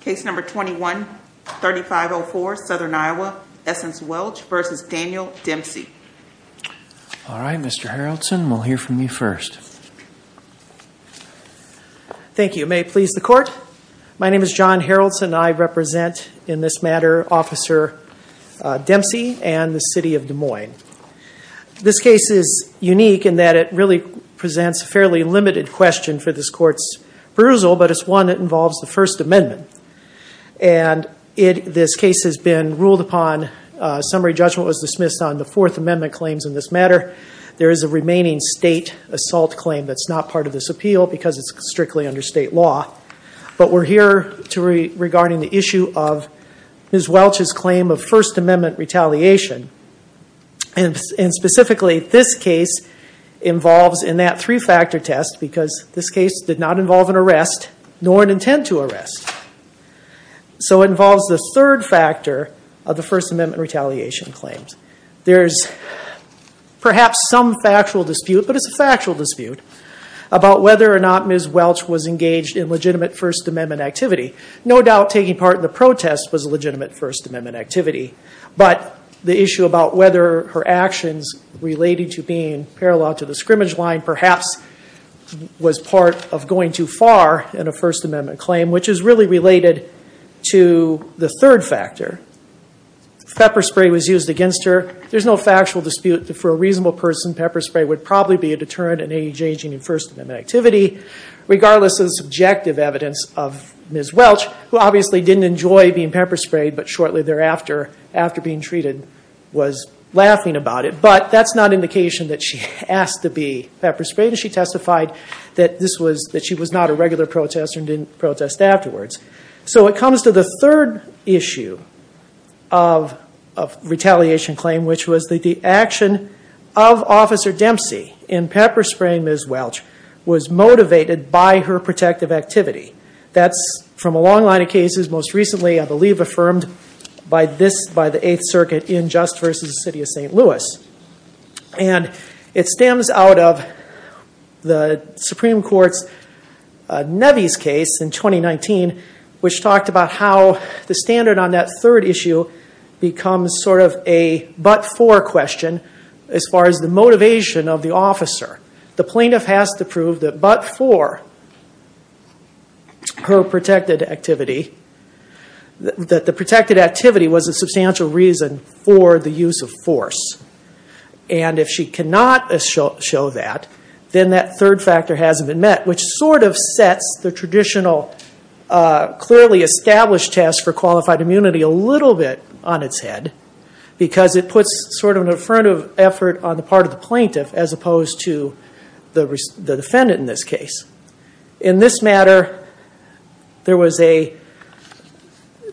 Case number 21 3504 Southern Iowa Essence Welch versus Daniel Dempsey All right, mr. Haraldson. We'll hear from you first Thank you may please the court my name is John Haraldson I represent in this matter officer Dempsey and the city of Des Moines This case is unique in that it really presents a fairly limited question for this court's perusal but it's one that involves the First Amendment and It this case has been ruled upon Summary judgment was dismissed on the Fourth Amendment claims in this matter. There is a remaining state assault claim That's not part of this appeal because it's strictly under state law But we're here to regarding the issue of Ms. Welch's claim of First Amendment retaliation and specifically this case Involves in that three-factor test because this case did not involve an arrest nor an intent to arrest So it involves the third factor of the First Amendment retaliation claims. There's Perhaps some factual dispute, but it's a factual dispute About whether or not Ms. Welch was engaged in legitimate First Amendment activity No doubt taking part in the protest was a legitimate First Amendment activity But the issue about whether her actions related to being parallel to the scrimmage line perhaps Was part of going too far in a First Amendment claim, which is really related to the third factor Pepper spray was used against her There's no factual dispute that for a reasonable person pepper spray would probably be a deterrent in a changing in First Amendment activity Regardless of the subjective evidence of Ms. Welch who obviously didn't enjoy being pepper sprayed but shortly thereafter After being treated was laughing about it, but that's not indication that she asked to be pepper sprayed She testified that this was that she was not a regular protester and didn't protest afterwards. So it comes to the third issue of Retaliation claim which was that the action of Officer Dempsey in pepper spraying Ms. Welch was motivated by her protective activity That's from a long line of cases most recently I believe affirmed by this by the Eighth Circuit in just versus the city of st. Louis and it stems out of the Supreme Court's Nebby's case in 2019 which talked about how the standard on that third issue Becomes sort of a but-for question as far as the motivation of the officer the plaintiff has to prove that but-for Her protected activity that the protected activity was a substantial reason for the use of force and If she cannot show that then that third factor hasn't been met which sort of sets the traditional Clearly established test for qualified immunity a little bit on its head Because it puts sort of an affirmative effort on the part of the plaintiff as opposed to the defendant in this case in this matter there was a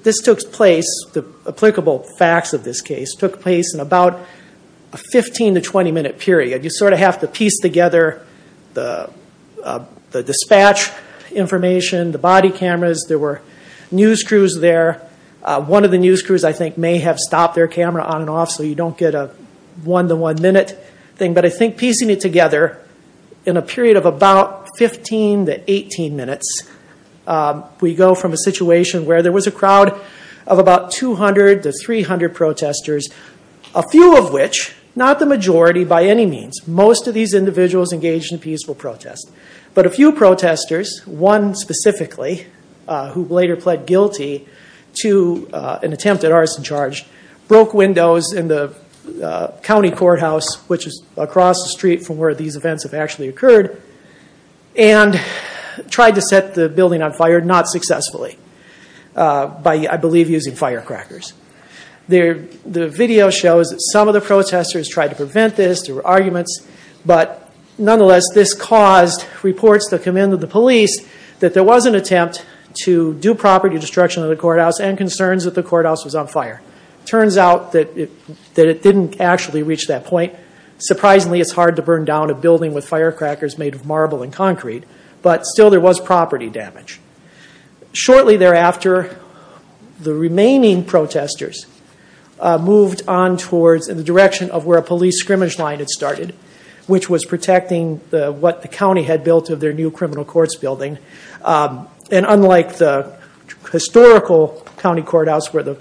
This took place the applicable facts of this case took place in about a 15 to 20 minute period you sort of have to piece together the the dispatch Information the body cameras there were news crews there One of the news crews I think may have stopped their camera on and off so you don't get a one to one minute Thing but I think piecing it together in a period of about 15 to 18 minutes we go from a situation where there was a crowd of about 200 to 300 protesters a Few of which not the majority by any means most of these individuals engaged in peaceful protest But a few protesters one specifically who later pled guilty to an attempt at arson charge broke windows in the County Courthouse, which is across the street from where these events have actually occurred and Tried to set the building on fire not successfully By I believe using firecrackers There the video shows that some of the protesters tried to prevent this there were arguments But nonetheless this caused reports to come in to the police That there was an attempt to do property destruction of the courthouse and concerns that the courthouse was on fire Turns out that it that it didn't actually reach that point Surprisingly, it's hard to burn down a building with firecrackers made of marble and concrete, but still there was property damage shortly thereafter the remaining protesters Moved on towards in the direction of where a police scrimmage line had started which was protecting the what the county had built of their new criminal courts building and unlike the Historical County Courthouse where the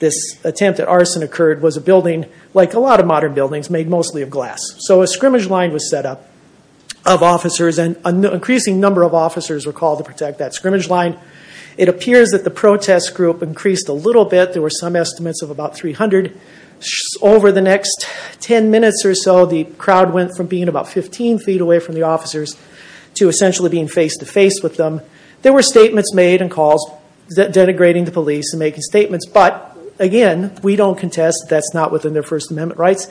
this attempt at arson occurred was a building like a lot of modern buildings made mostly of glass so a scrimmage line was set up of Officers and an increasing number of officers were called to protect that scrimmage line It appears that the protest group increased a little bit. There were some estimates of about 300 Over the next 10 minutes or so the crowd went from being about 15 feet away from the officers To essentially being face-to-face with them there were statements made and calls that denigrating the police and making statements But again, we don't contest that's not within their First Amendment rights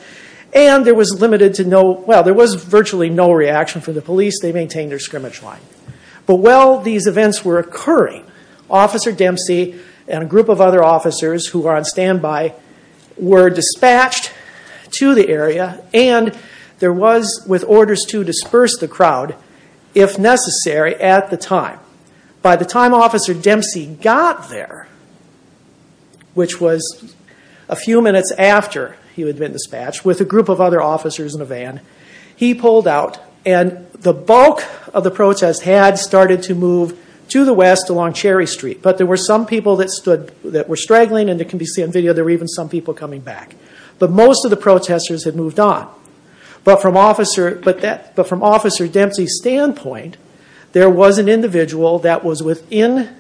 and there was limited to no Well, there was virtually no reaction from the police. They maintained their scrimmage line, but well these events were occurring Officer Dempsey and a group of other officers who are on standby were dispatched to the area and There was with orders to disperse the crowd if Necessary at the time by the time officer Dempsey got there Which was a few minutes after he would been dispatched with a group of other officers in a van He pulled out and the bulk of the protest had started to move to the west along Cherry Street But there were some people that stood that were straggling and it can be seen video There were even some people coming back, but most of the protesters had moved on But from officer, but that but from officer Dempsey standpoint, there was an individual that was within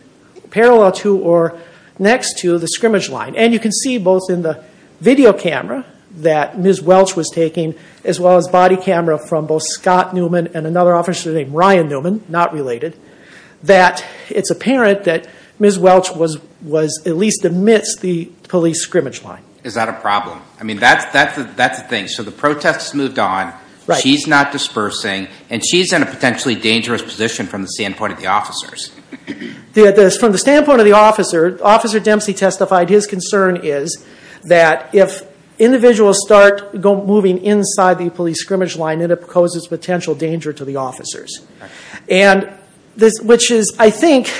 parallel to or next to the scrimmage line and you can see both in the Video camera that ms Welch was taking as well as body camera from both Scott Newman and another officer named Ryan Newman not related That it's apparent that ms. Welch was was at least amidst the police scrimmage line. Is that a problem? I mean, that's that's that's the thing So the protests moved on right he's not dispersing and she's in a potentially dangerous position from the standpoint of the officers the address from the standpoint of the officer officer Dempsey testified his concern is that if Individuals start go moving inside the police scrimmage line and it poses potential danger to the officers and this which is I think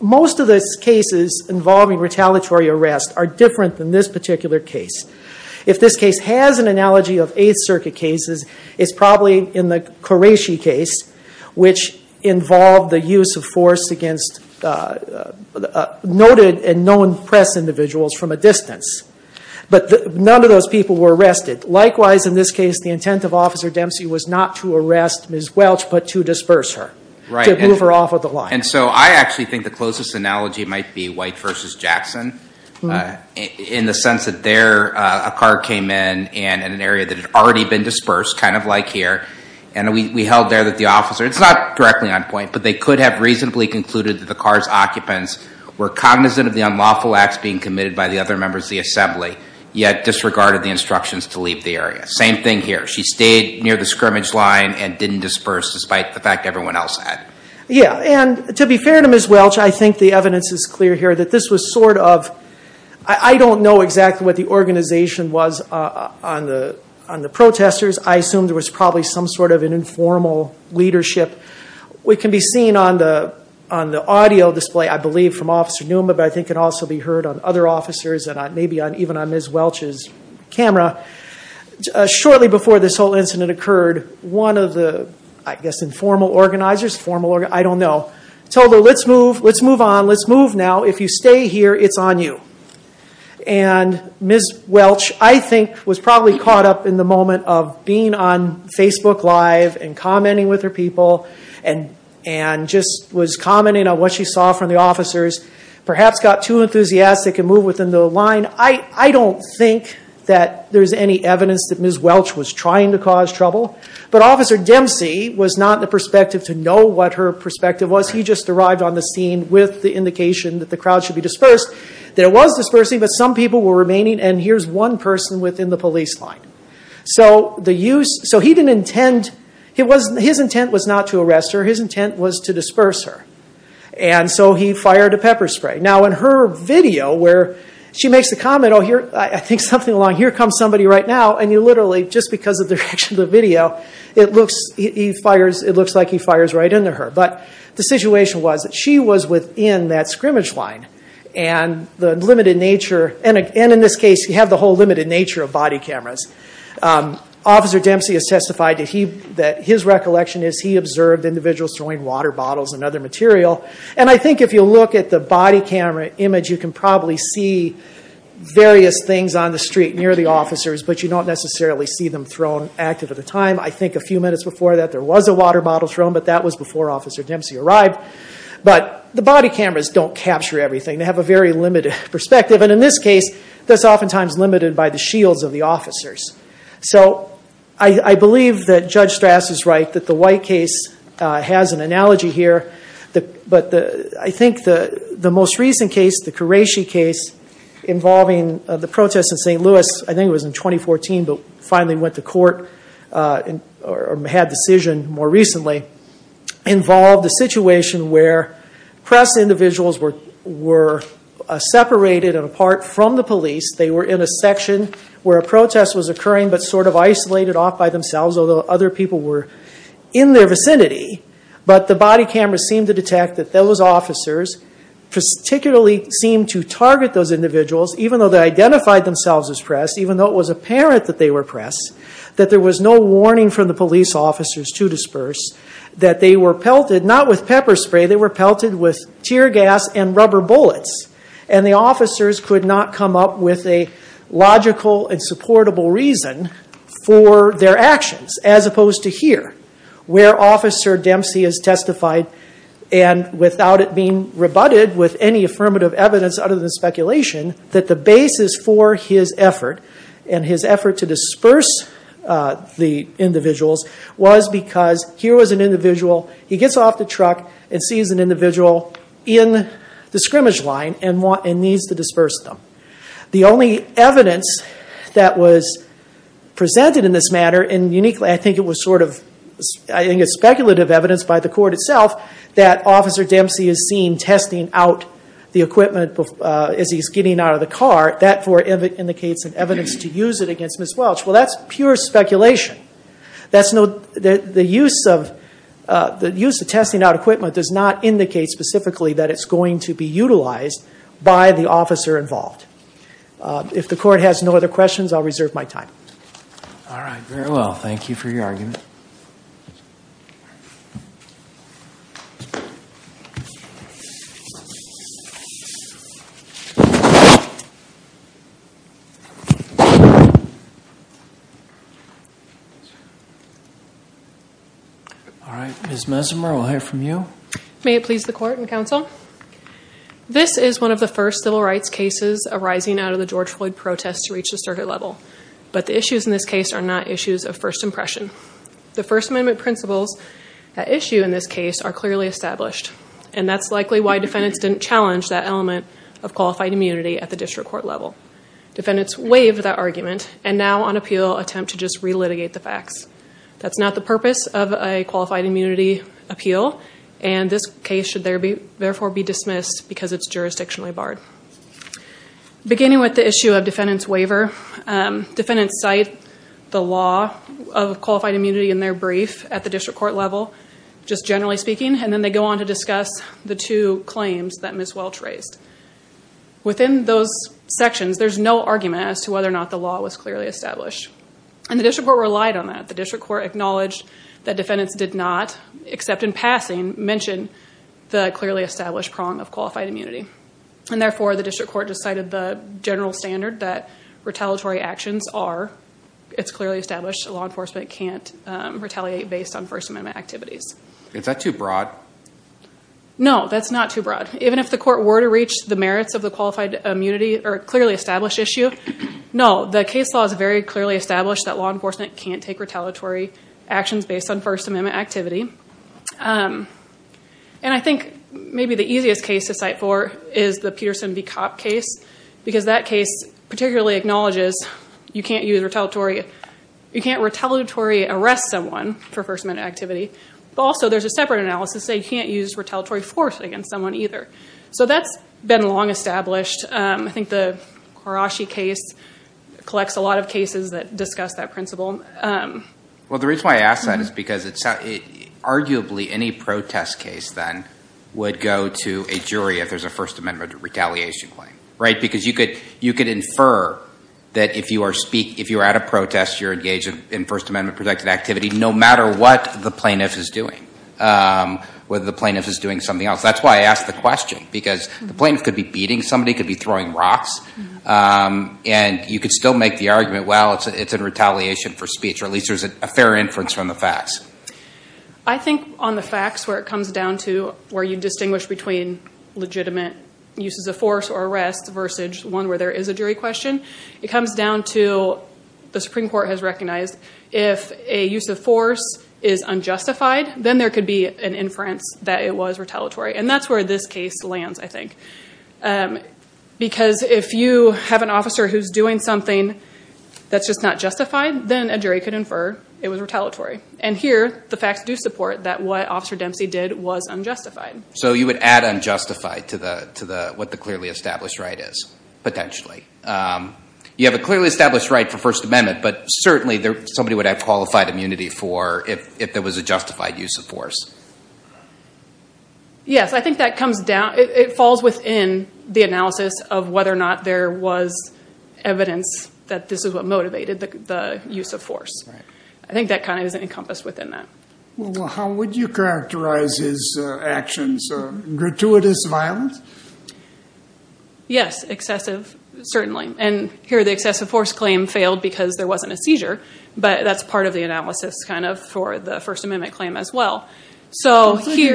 Most of the cases involving retaliatory arrest are different than this particular case If this case has an analogy of Eighth Circuit cases, it's probably in the Qureshi case which involved the use of force against Noted and known press individuals from a distance But none of those people were arrested likewise in this case the intent of officer Dempsey was not to arrest ms Welch but to disperse her to move her off of the line. And so I actually think the closest analogy might be White versus Jackson In the sense that there a car came in and in an area that had already been dispersed kind of like here and we held There that the officer it's not directly on point But they could have reasonably concluded that the car's occupants were cognizant of the unlawful acts being committed by the other members the assembly Yet disregarded the instructions to leave the area same thing here She stayed near the scrimmage line and didn't disperse despite the fact everyone else had yeah and to be fair to miss Welch I think the evidence is clear here that this was sort of I Don't know exactly what the organization was on the on the protesters I assumed there was probably some sort of an informal leadership We can be seen on the on the audio display I believe from officer Newman, but I think it also be heard on other officers and maybe on even on miss Welch's camera Shortly before this whole incident occurred one of the I guess informal organizers formal I don't know told her let's move. Let's move on. Let's move now. If you stay here, it's on you and Miss Welch, I think was probably caught up in the moment of being on Facebook live and commenting with her people and And just was commenting on what she saw from the officers perhaps got too enthusiastic and move within the line I I don't think that there's any evidence that miss Welch was trying to cause trouble But officer Dempsey was not the perspective to know what her perspective was He just arrived on the scene with the indication that the crowd should be dispersed There was dispersing but some people were remaining and here's one person within the police line So the use so he didn't intend it wasn't his intent was not to arrest her his intent was to disperse her and So he fired a pepper spray now in her video where she makes the comment Oh here I think something along here comes somebody right now and you literally just because of the direction of the video It looks he fires. It looks like he fires right into her but the situation was that she was within that scrimmage line and The limited nature and again in this case you have the whole limited nature of body cameras Officer Dempsey has testified to he that his recollection is he observed individuals throwing water bottles and other material And I think if you look at the body camera image you can probably see Various things on the street near the officers, but you don't necessarily see them thrown active at a time I think a few minutes before that there was a water bottle thrown, but that was before officer Dempsey arrived But the body cameras don't capture everything they have a very limited perspective and in this case That's oftentimes limited by the shields of the officers So I I believe that judge Strass is right that the white case Has an analogy here the but the I think the the most recent case the Qureshi case Involving the protests in st. Louis. I think it was in 2014, but finally went to court And or had decision more recently involved the situation where press individuals were were Separated and apart from the police they were in a section where a protest was occurring But sort of isolated off by themselves although other people were in their vicinity But the body cameras seem to detect that those officers Particularly seem to target those individuals even though they identified themselves as pressed even though it was apparent that they were pressed That there was no warning from the police officers to disperse that they were pelted not with pepper spray they were pelted with tear gas and rubber bullets and the officers could not come up with a For their actions as opposed to here where officer Dempsey has testified and Without it being rebutted with any affirmative evidence other than speculation that the basis for his effort and his effort to disperse the individuals was because here was an individual he gets off the truck and sees an individual in The scrimmage line and want and needs to disperse them the only evidence that was Presented in this matter and uniquely. I think it was sort of I think it's speculative evidence by the court itself that Officer Dempsey is seen testing out the equipment as he's getting out of the car that for Indicates an evidence to use it against miss Welch. Well, that's pure speculation That's no the use of The use of testing out equipment does not indicate specifically that it's going to be utilized by the officer involved If the court has no other questions, I'll reserve my time All right. Very well. Thank you for your argument All right, miss Mesimer we'll hear from you may it please the court and counsel This is one of the first civil rights cases arising out of the George Floyd protests to reach the circuit level But the issues in this case are not issues of first impression the First Amendment principles That issue in this case are clearly established and that's likely why defendants didn't challenge that element of qualified immunity at the district court level Defendants waive that argument and now on appeal attempt to just relitigate the facts That's not the purpose of a qualified immunity appeal and this case should there be therefore be dismissed because it's jurisdictionally barred Beginning with the issue of defendants waiver Defendants cite the law of qualified immunity in their brief at the district court level Just generally speaking and then they go on to discuss the two claims that miss Welch raised Within those sections. There's no argument as to whether or not the law was clearly established And the district court relied on that the district court acknowledged that defendants did not Except in passing mention the clearly established prong of qualified immunity And therefore the district court decided the general standard that retaliatory actions are It's clearly established. The law enforcement can't retaliate based on First Amendment activities. It's not too broad No, that's not too broad. Even if the court were to reach the merits of the qualified immunity or clearly established issue No, the case law is very clearly established that law enforcement can't take retaliatory actions based on First Amendment activity and I think maybe the easiest case to cite for is the Peterson v. Cop case because that case particularly acknowledges You can't use retaliatory. You can't retaliatory arrest someone for First Amendment activity. Also, there's a separate analysis They can't use retaliatory force against someone either. So that's been long established. I think the Hiroshi case Collects a lot of cases that discuss that principle Well, the reason why I ask that is because it's Arguably any protest case then would go to a jury if there's a First Amendment retaliation claim, right? Because you could you could infer that if you are speak if you're at a protest you're engaged in First Amendment protected activity No matter what the plaintiff is doing Whether the plaintiff is doing something else. That's why I asked the question because the plaintiff could be beating somebody could be throwing rocks And you could still make the argument well, it's it's a retaliation for speech or at least there's a fair inference from the facts. I think on the facts where it comes down to where you distinguish between Legitimate uses of force or arrest versus one where there is a jury question. It comes down to The Supreme Court has recognized if a use of force is unjustified Then there could be an inference that it was retaliatory and that's where this case lands, I think Because if you have an officer who's doing something That's just not justified then a jury could infer it was retaliatory and here the facts do support that what officer Dempsey did was unjustified So you would add unjustified to the to the what the clearly established right is potentially You have a clearly established right for First Amendment But certainly there somebody would have qualified immunity for if there was a justified use of force Yes, I think that comes down it falls within the analysis of whether or not there was Evidence that this is what motivated the use of force. I think that kind of isn't encompassed within that How would you characterize his actions? gratuitous violence Yes, excessive certainly and here the excessive force claim failed because there wasn't a seizure But that's part of the analysis kind of for the First Amendment claim as well so Nobody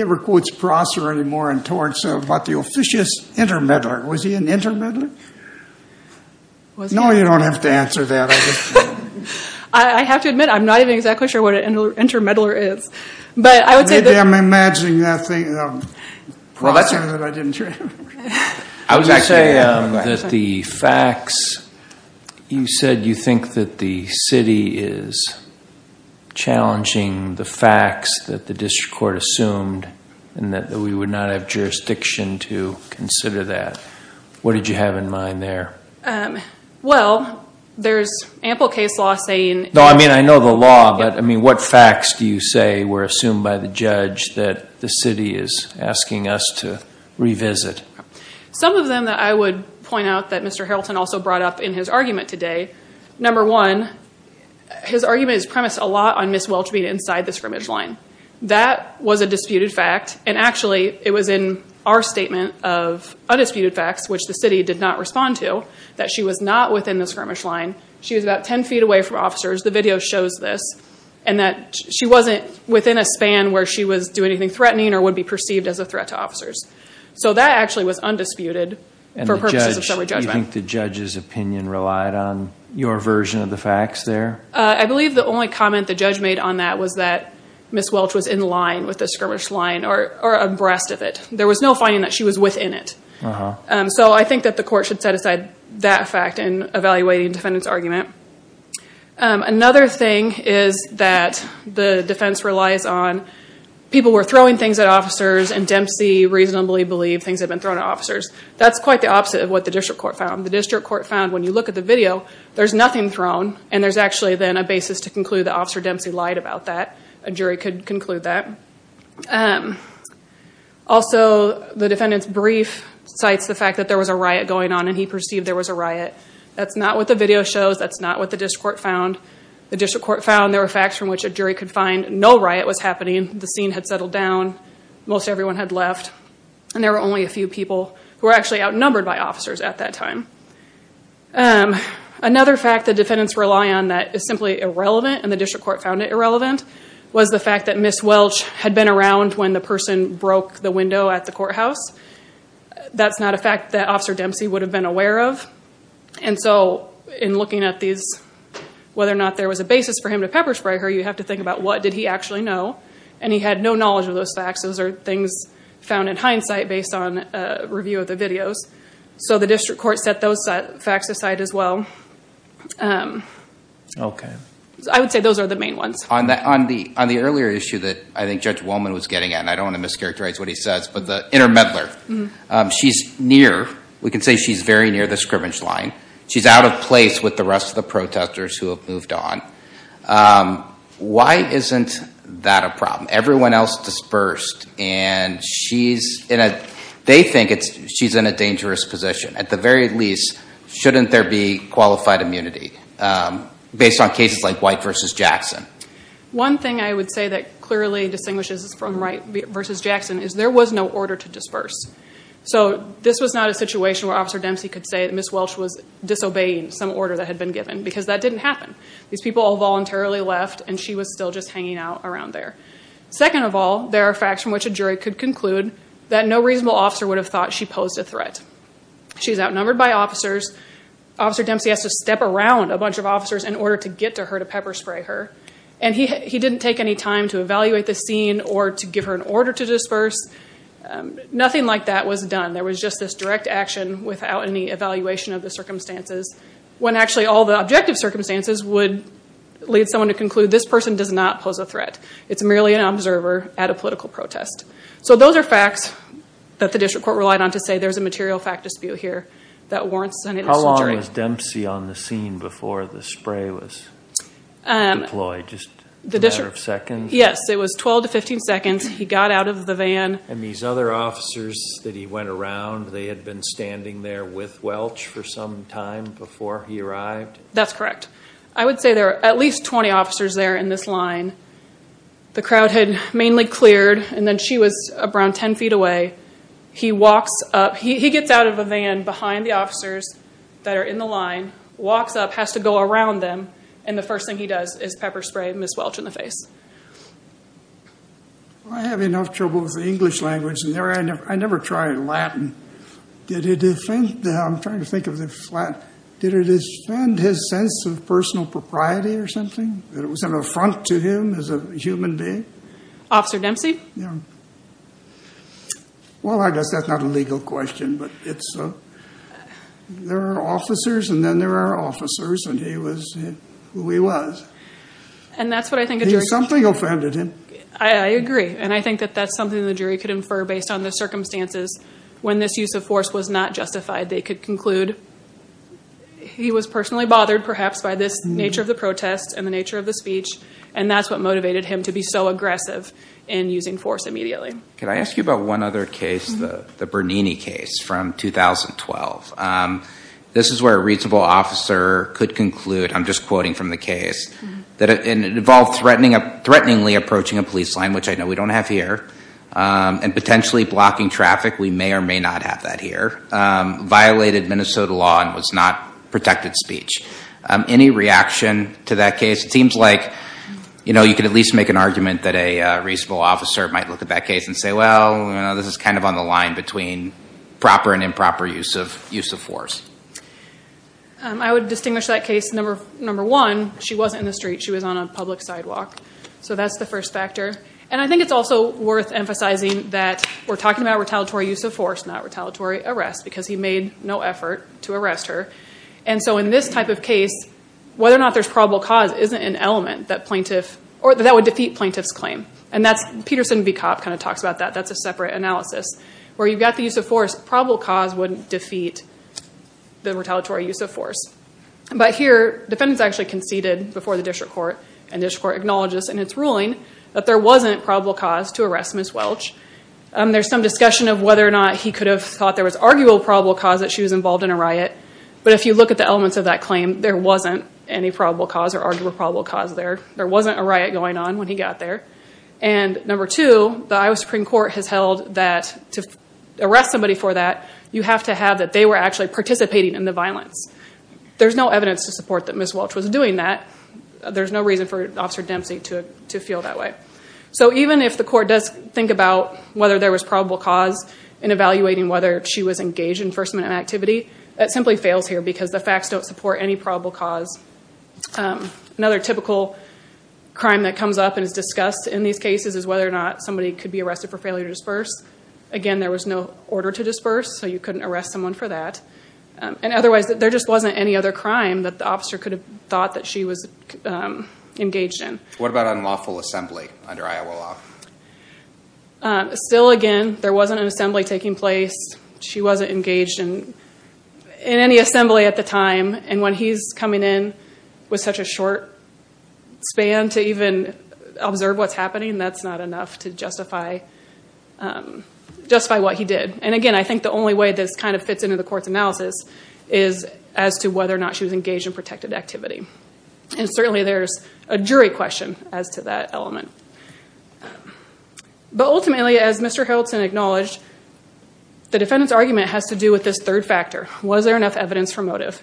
ever quotes Prosser anymore in torts about the officious intermeddler. Was he an intermeddler? No, you don't have to answer that I Have to admit I'm not even exactly sure what an intermeddler is, but I would say I'm imagining that thing I would say that the facts you said you think that the city is Challenging the facts that the district court assumed and that we would not have jurisdiction to consider that What did you have in mind there? Well, there's ample case law saying no, I mean, I know the law But I mean what facts do you say were assumed by the judge that the city is asking us to revisit? Some of them that I would point out that mr. Harreldton also brought up in his argument today number one His argument is premised a lot on Miss Welch being inside the scrimmage line that was a disputed fact and actually it was in our statement of Undisputed facts which the city did not respond to that. She was not within the skirmish line She was about 10 feet away from officers The video shows this and that she wasn't within a span where she was doing anything threatening or would be perceived as a threat to officers So that actually was undisputed I think the judge's opinion relied on your version of the facts there I believe the only comment the judge made on that was that Miss Welch was in line with the skirmish line or abreast of it. There was no finding that she was within it So I think that the court should set aside that fact in evaluating defendants argument Another thing is that the defense relies on People were throwing things at officers and Dempsey reasonably believed things have been thrown to officers That's quite the opposite of what the district court found the district court found when you look at the video There's nothing thrown and there's actually then a basis to conclude the officer Dempsey lied about that a jury could conclude that Also the defendants brief cites the fact that there was a riot going on and he perceived there was a riot That's not what the video shows That's not what the district court found The district court found there were facts from which a jury could find no riot was happening the scene had settled down Most everyone had left and there were only a few people who were actually outnumbered by officers at that time Another fact the defendants rely on that is simply irrelevant and the district court found it irrelevant Was the fact that Miss Welch had been around when the person broke the window at the courthouse? That's not a fact that officer Dempsey would have been aware of and so in looking at these Whether or not there was a basis for him to pepper-spray her you have to think about what did he actually know and he had No knowledge of those facts. Those are things found in hindsight based on a review of the videos So the district court set those facts aside as well Okay, I would say those are the main ones on that on the on the earlier issue that I think judge woman was getting at I don't want to mischaracterize what he says, but the inner meddler She's near we can say she's very near the scrimmage line. She's out of place with the rest of the protesters who have moved on Why isn't that a problem everyone else dispersed and She's in a they think it's she's in a dangerous position at the very least shouldn't there be qualified immunity? based on cases like white versus Jackson One thing I would say that clearly distinguishes from right versus Jackson is there was no order to disperse So this was not a situation where officer Dempsey could say that miss Welch was Disobeying some order that had been given because that didn't happen these people all voluntarily left and she was still just hanging out around there Second of all, there are facts from which a jury could conclude that no reasonable officer would have thought she posed a threat She's outnumbered by officers Officer Dempsey has to step around a bunch of officers in order to get to her to pepper-spray her and he he didn't take any time To evaluate the scene or to give her an order to disperse Nothing like that was done. There was just this direct action without any evaluation of the circumstances when actually all the objective circumstances would Lead someone to conclude this person does not pose a threat. It's merely an observer at a political protest So those are facts that the district court relied on to say there's a material fact dispute here that warrants and how long is Dempsey? on the scene before the spray was Employed just the district second. Yes, it was 12 to 15 seconds He got out of the van and these other Officers that he went around they had been standing there with Welch for some time before he arrived. That's correct I would say there are at least 20 officers there in this line The crowd had mainly cleared and then she was around 10 feet away He walks up he gets out of a van behind the officers that are in the line Walks up has to go around them. And the first thing he does is pepper-spray miss Welch in the face. I Have enough trouble with the English language and there I know I never tried Latin Did he defend them trying to think of the flat? Did it defend his sense of personal propriety or something that it was an affront to him as a human being? Officer Dempsey. Yeah Well, I guess that's not a legal question, but it's There are officers and then there are officers and he was who he was And that's what I think something offended him I agree and I think that that's something the jury could infer based on the circumstances When this use of force was not justified they could conclude He was personally bothered perhaps by this nature of the protest and the nature of the speech and that's what motivated him to be so From This is where a reasonable officer could conclude I'm just quoting from the case that it involved threatening a threateningly approaching a police line Which I know we don't have here And potentially blocking traffic. We may or may not have that here Violated Minnesota law and was not protected speech any reaction to that case. It seems like You know, you could at least make an argument that a reasonable officer might look at that case and say well This is kind of on the line between proper and improper use of use of force I Would distinguish that case number number one. She wasn't in the street. She was on a public sidewalk So that's the first factor and I think it's also worth emphasizing That we're talking about retaliatory use of force not retaliatory arrest because he made no effort to arrest her And so in this type of case Whether or not there's probable cause isn't an element that plaintiff or that would defeat plaintiffs claim And that's Peterson v. Cop kind of talks about that That's a separate analysis where you've got the use of force probable cause wouldn't defeat the retaliatory use of force But here defendants actually conceded before the district court and district court acknowledges in its ruling that there wasn't probable cause to arrest Miss Welch There's some discussion of whether or not he could have thought there was arguable probable cause that she was involved in a riot But if you look at the elements of that claim, there wasn't any probable cause or arguable probable cause there Wasn't a riot going on when he got there and Number two, the Iowa Supreme Court has held that to arrest somebody for that You have to have that they were actually participating in the violence There's no evidence to support that Miss Welch was doing that There's no reason for officer Dempsey to to feel that way So even if the court does think about whether there was probable cause in Evaluating whether she was engaged in first-minute activity that simply fails here because the facts don't support any probable cause Another typical Crime that comes up and is discussed in these cases is whether or not somebody could be arrested for failure to disperse Again, there was no order to disperse so you couldn't arrest someone for that And otherwise that there just wasn't any other crime that the officer could have thought that she was Engaged in what about unlawful assembly under Iowa law? Still again, there wasn't an assembly taking place. She wasn't engaged in In any assembly at the time and when he's coming in with such a short Span to even observe what's happening. That's not enough to justify Just by what he did and again I think the only way this kind of fits into the court's analysis is as to whether or not she was engaged in protected activity And certainly there's a jury question as to that element But ultimately as mr. Hilton acknowledged The defendants argument has to do with this third factor. Was there enough evidence for motive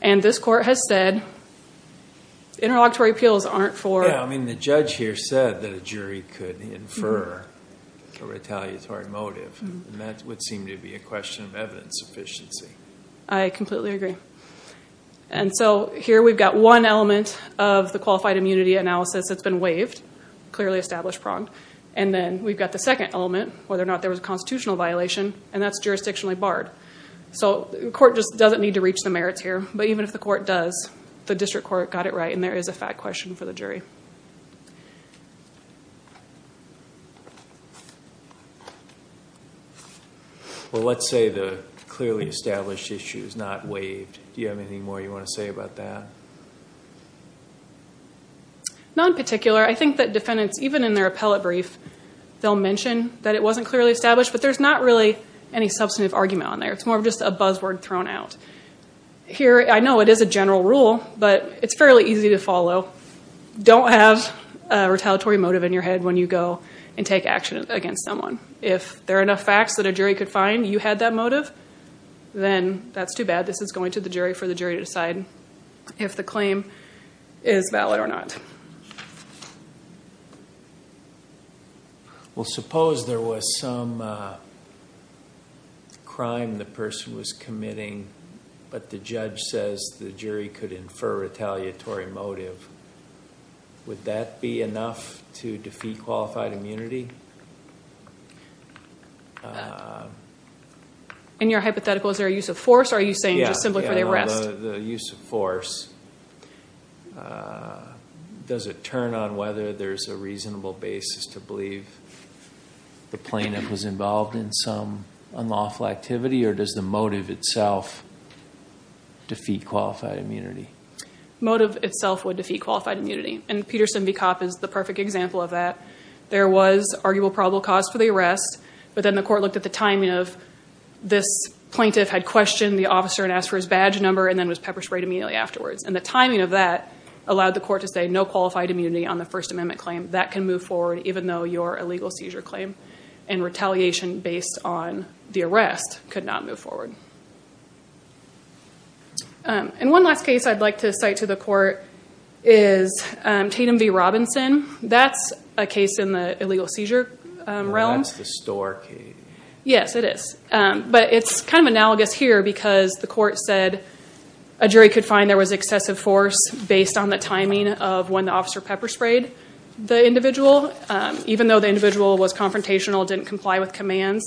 and this court has said Interlocutory appeals aren't for I mean the judge here said that a jury could infer a Retaliatory motive and that would seem to be a question of evidence efficiency. I completely agree and So here we've got one element of the qualified immunity analysis That's been waived clearly established pronged and then we've got the second element whether or not there was a constitutional violation and that's jurisdictionally barred So the court just doesn't need to reach the merits here But even if the court does the district court got it, right and there is a fact question for the jury Well, let's say the clearly established issue is not waived do you have anything more you want to say about that Not in particular I think that defendants even in their appellate brief They'll mention that it wasn't clearly established, but there's not really any substantive argument on there. It's more of just a buzzword thrown out Here, I know it is a general rule, but it's fairly easy to follow Don't have a retaliatory motive in your head when you go and take action against someone if there are enough facts that a jury could Find you had that motive Then that's too bad. This is going to the jury for the jury to decide If the claim is valid or not Well, suppose there was some Crime the person was committing but the judge says the jury could infer retaliatory motive Would that be enough to defeat qualified immunity? And Your hypothetical is there a use of force are you saying just simply for the arrest the use of force Does it turn on whether there's a reasonable basis to believe The plaintiff was involved in some unlawful activity or does the motive itself? defeat qualified immunity Motive itself would defeat qualified immunity and Peterson v. Kopp is the perfect example of that there was arguable probable cause for the arrest, but then the court looked at the timing of This plaintiff had questioned the officer and asked for his badge number and then was pepper-sprayed immediately afterwards and the timing of that allowed the court to say no qualified immunity on the First Amendment claim that can move forward even though your illegal seizure claim and Retaliation based on the arrest could not move forward And One last case I'd like to cite to the court is Tatum v. Robinson, that's a case in the illegal seizure Realm, that's the store key. Yes it is but it's kind of analogous here because the court said a Jury could find there was excessive force based on the timing of when the officer pepper-sprayed the individual Even though the individual was confrontational didn't comply with commands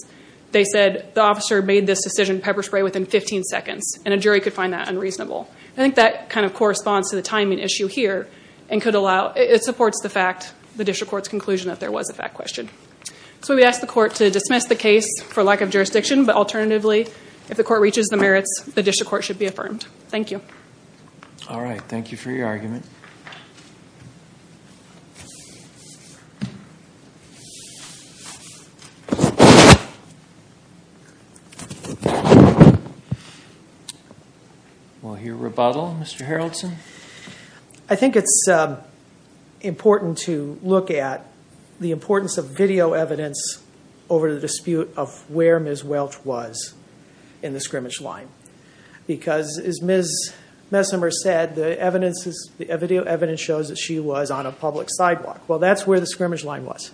They said the officer made this decision pepper-spray within 15 seconds and a jury could find that unreasonable I think that kind of corresponds to the timing issue here and could allow it supports the fact the district court's conclusion that there was a fact question So we asked the court to dismiss the case for lack of jurisdiction But alternatively if the court reaches the merits the district court should be affirmed. Thank you All right. Thank you for your argument I Think it's important to look at the importance of video evidence over the dispute of where ms. Welch was in the scrimmage line Because as ms. Messimer said the evidence is the video evidence shows that she was on a public sidewalk Well, that's where the scrimmage line was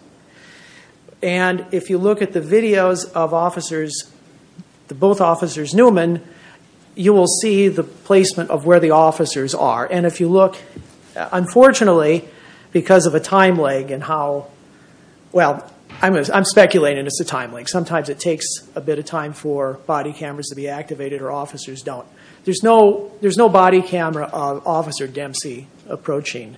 And if you look at the videos of officers the both officers Newman You will see the placement of where the officers are and if you look unfortunately because of a time lag and how Well, I'm speculating. It's a time like sometimes it takes a bit of time for body cameras to be activated or officers Don't there's no there's no body camera of officer Dempsey approaching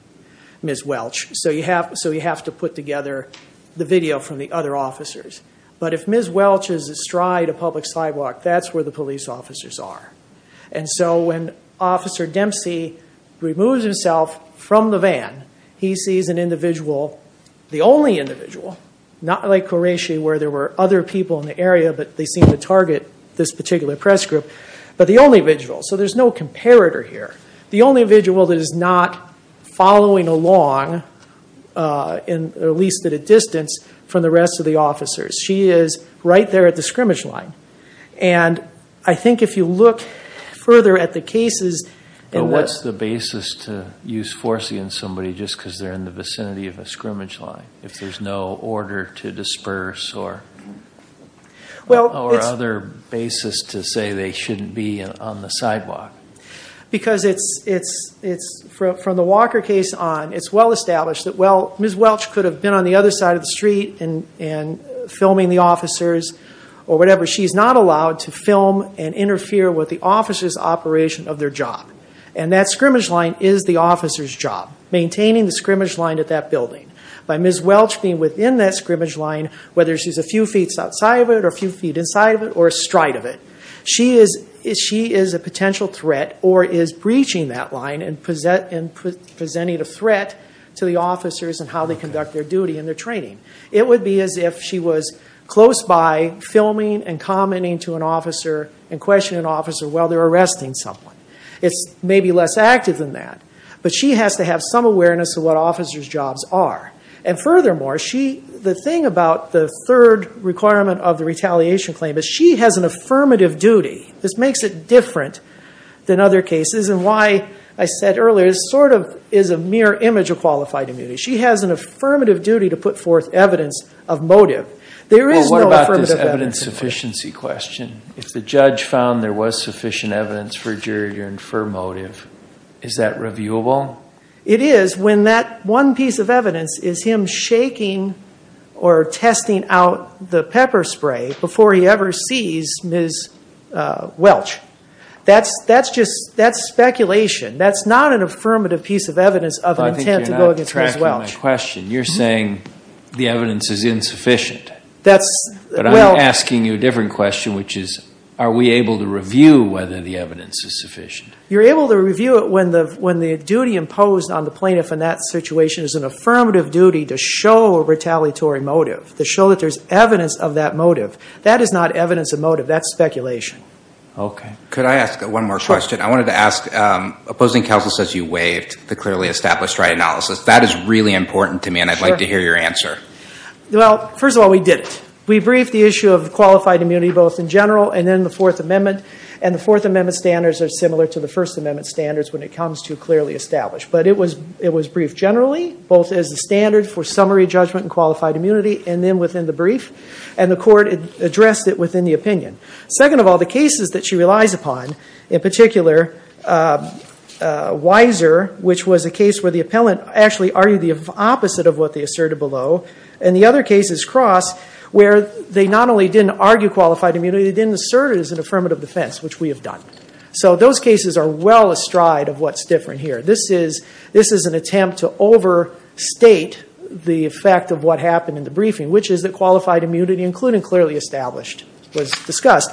Ms. Welch, so you have so you have to put together the video from the other officers But if ms. Welch is astride a public sidewalk, that's where the police officers are And so when officer Dempsey removes himself from the van He sees an individual the only individual not like Horatio where there were other people in the area But they seem to target this particular press group, but the only visual so there's no comparator here The only visual that is not following along In at least at a distance from the rest of the officers She is right there at the scrimmage line and I think if you look further at the cases and what's the basis to use force against somebody just because they're in the vicinity of a scrimmage line if there's no order to disperse or Well or other basis to say they shouldn't be on the sidewalk Because it's it's it's from the Walker case on it's well established that well Ms. Welch could have been on the other side of the street and and Filming the officers or whatever. She's not allowed to film and interfere with the officers operation of their job And that scrimmage line is the officers job Maintaining the scrimmage line at that building by Ms. Welch being within that scrimmage line Whether she's a few feet outside of it or a few feet inside of it or a stride of it She is if she is a potential threat or is breaching that line and present and Presenting a threat to the officers and how they conduct their duty in their training It would be as if she was close by filming and commenting to an officer and questioning officer Well, they're arresting someone it's maybe less active than that But she has to have some awareness of what officers jobs are and furthermore The thing about the third requirement of the retaliation claim is she has an affirmative duty this makes it different Than other cases and why I said earlier is sort of is a mere image of qualified immunity She has an affirmative duty to put forth evidence of motive There is no evidence of efficiency question if the judge found there was sufficient evidence for jury and for motive Is that reviewable? It is when that one piece of evidence is him shaking or Testing out the pepper spray before he ever sees miss Welch, that's that's just that's speculation. That's not an affirmative piece of evidence of Question you're saying the evidence is insufficient That's but I'm asking you a different question, which is are we able to review whether the evidence is sufficient? you're able to review it when the when the duty imposed on the plaintiff in that situation is an affirmative duty to show a Retaliatory motive to show that there's evidence of that motive. That is not evidence of motive. That's speculation Okay, could I ask one more question? I wanted to ask Opposing counsel says you waived the clearly established right analysis. That is really important to me and I'd like to hear your answer Well, first of all, we did it We briefed the issue of qualified immunity both in general and then the fourth amendment and the fourth amendment standards are similar to the first Amendment standards when it comes to clearly established But it was it was briefed generally both as the standard for summary judgment and qualified immunity and then within the brief and the court Addressed it within the opinion second of all the cases that she relies upon in particular Wiser which was a case where the appellant actually argued the opposite of what they asserted below and the other cases cross Where they not only didn't argue qualified immunity didn't assert it as an affirmative defense, which we have done So those cases are well astride of what's different here. This is this is an attempt to over State the effect of what happened in the briefing, which is that qualified immunity including clearly established was discussed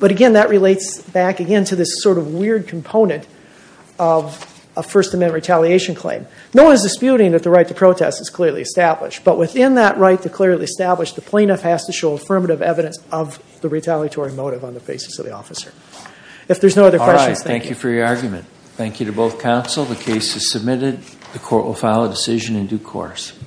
but again that relates back again to this sort of weird component of A first amendment retaliation claim. No one is disputing that the right to protest is clearly established but within that right to clearly establish the plaintiff has to show affirmative evidence of The retaliatory motive on the basis of the officer if there's no other questions. Thank you for your argument Thank you to both counsel. The case is submitted. The court will file a decision in due course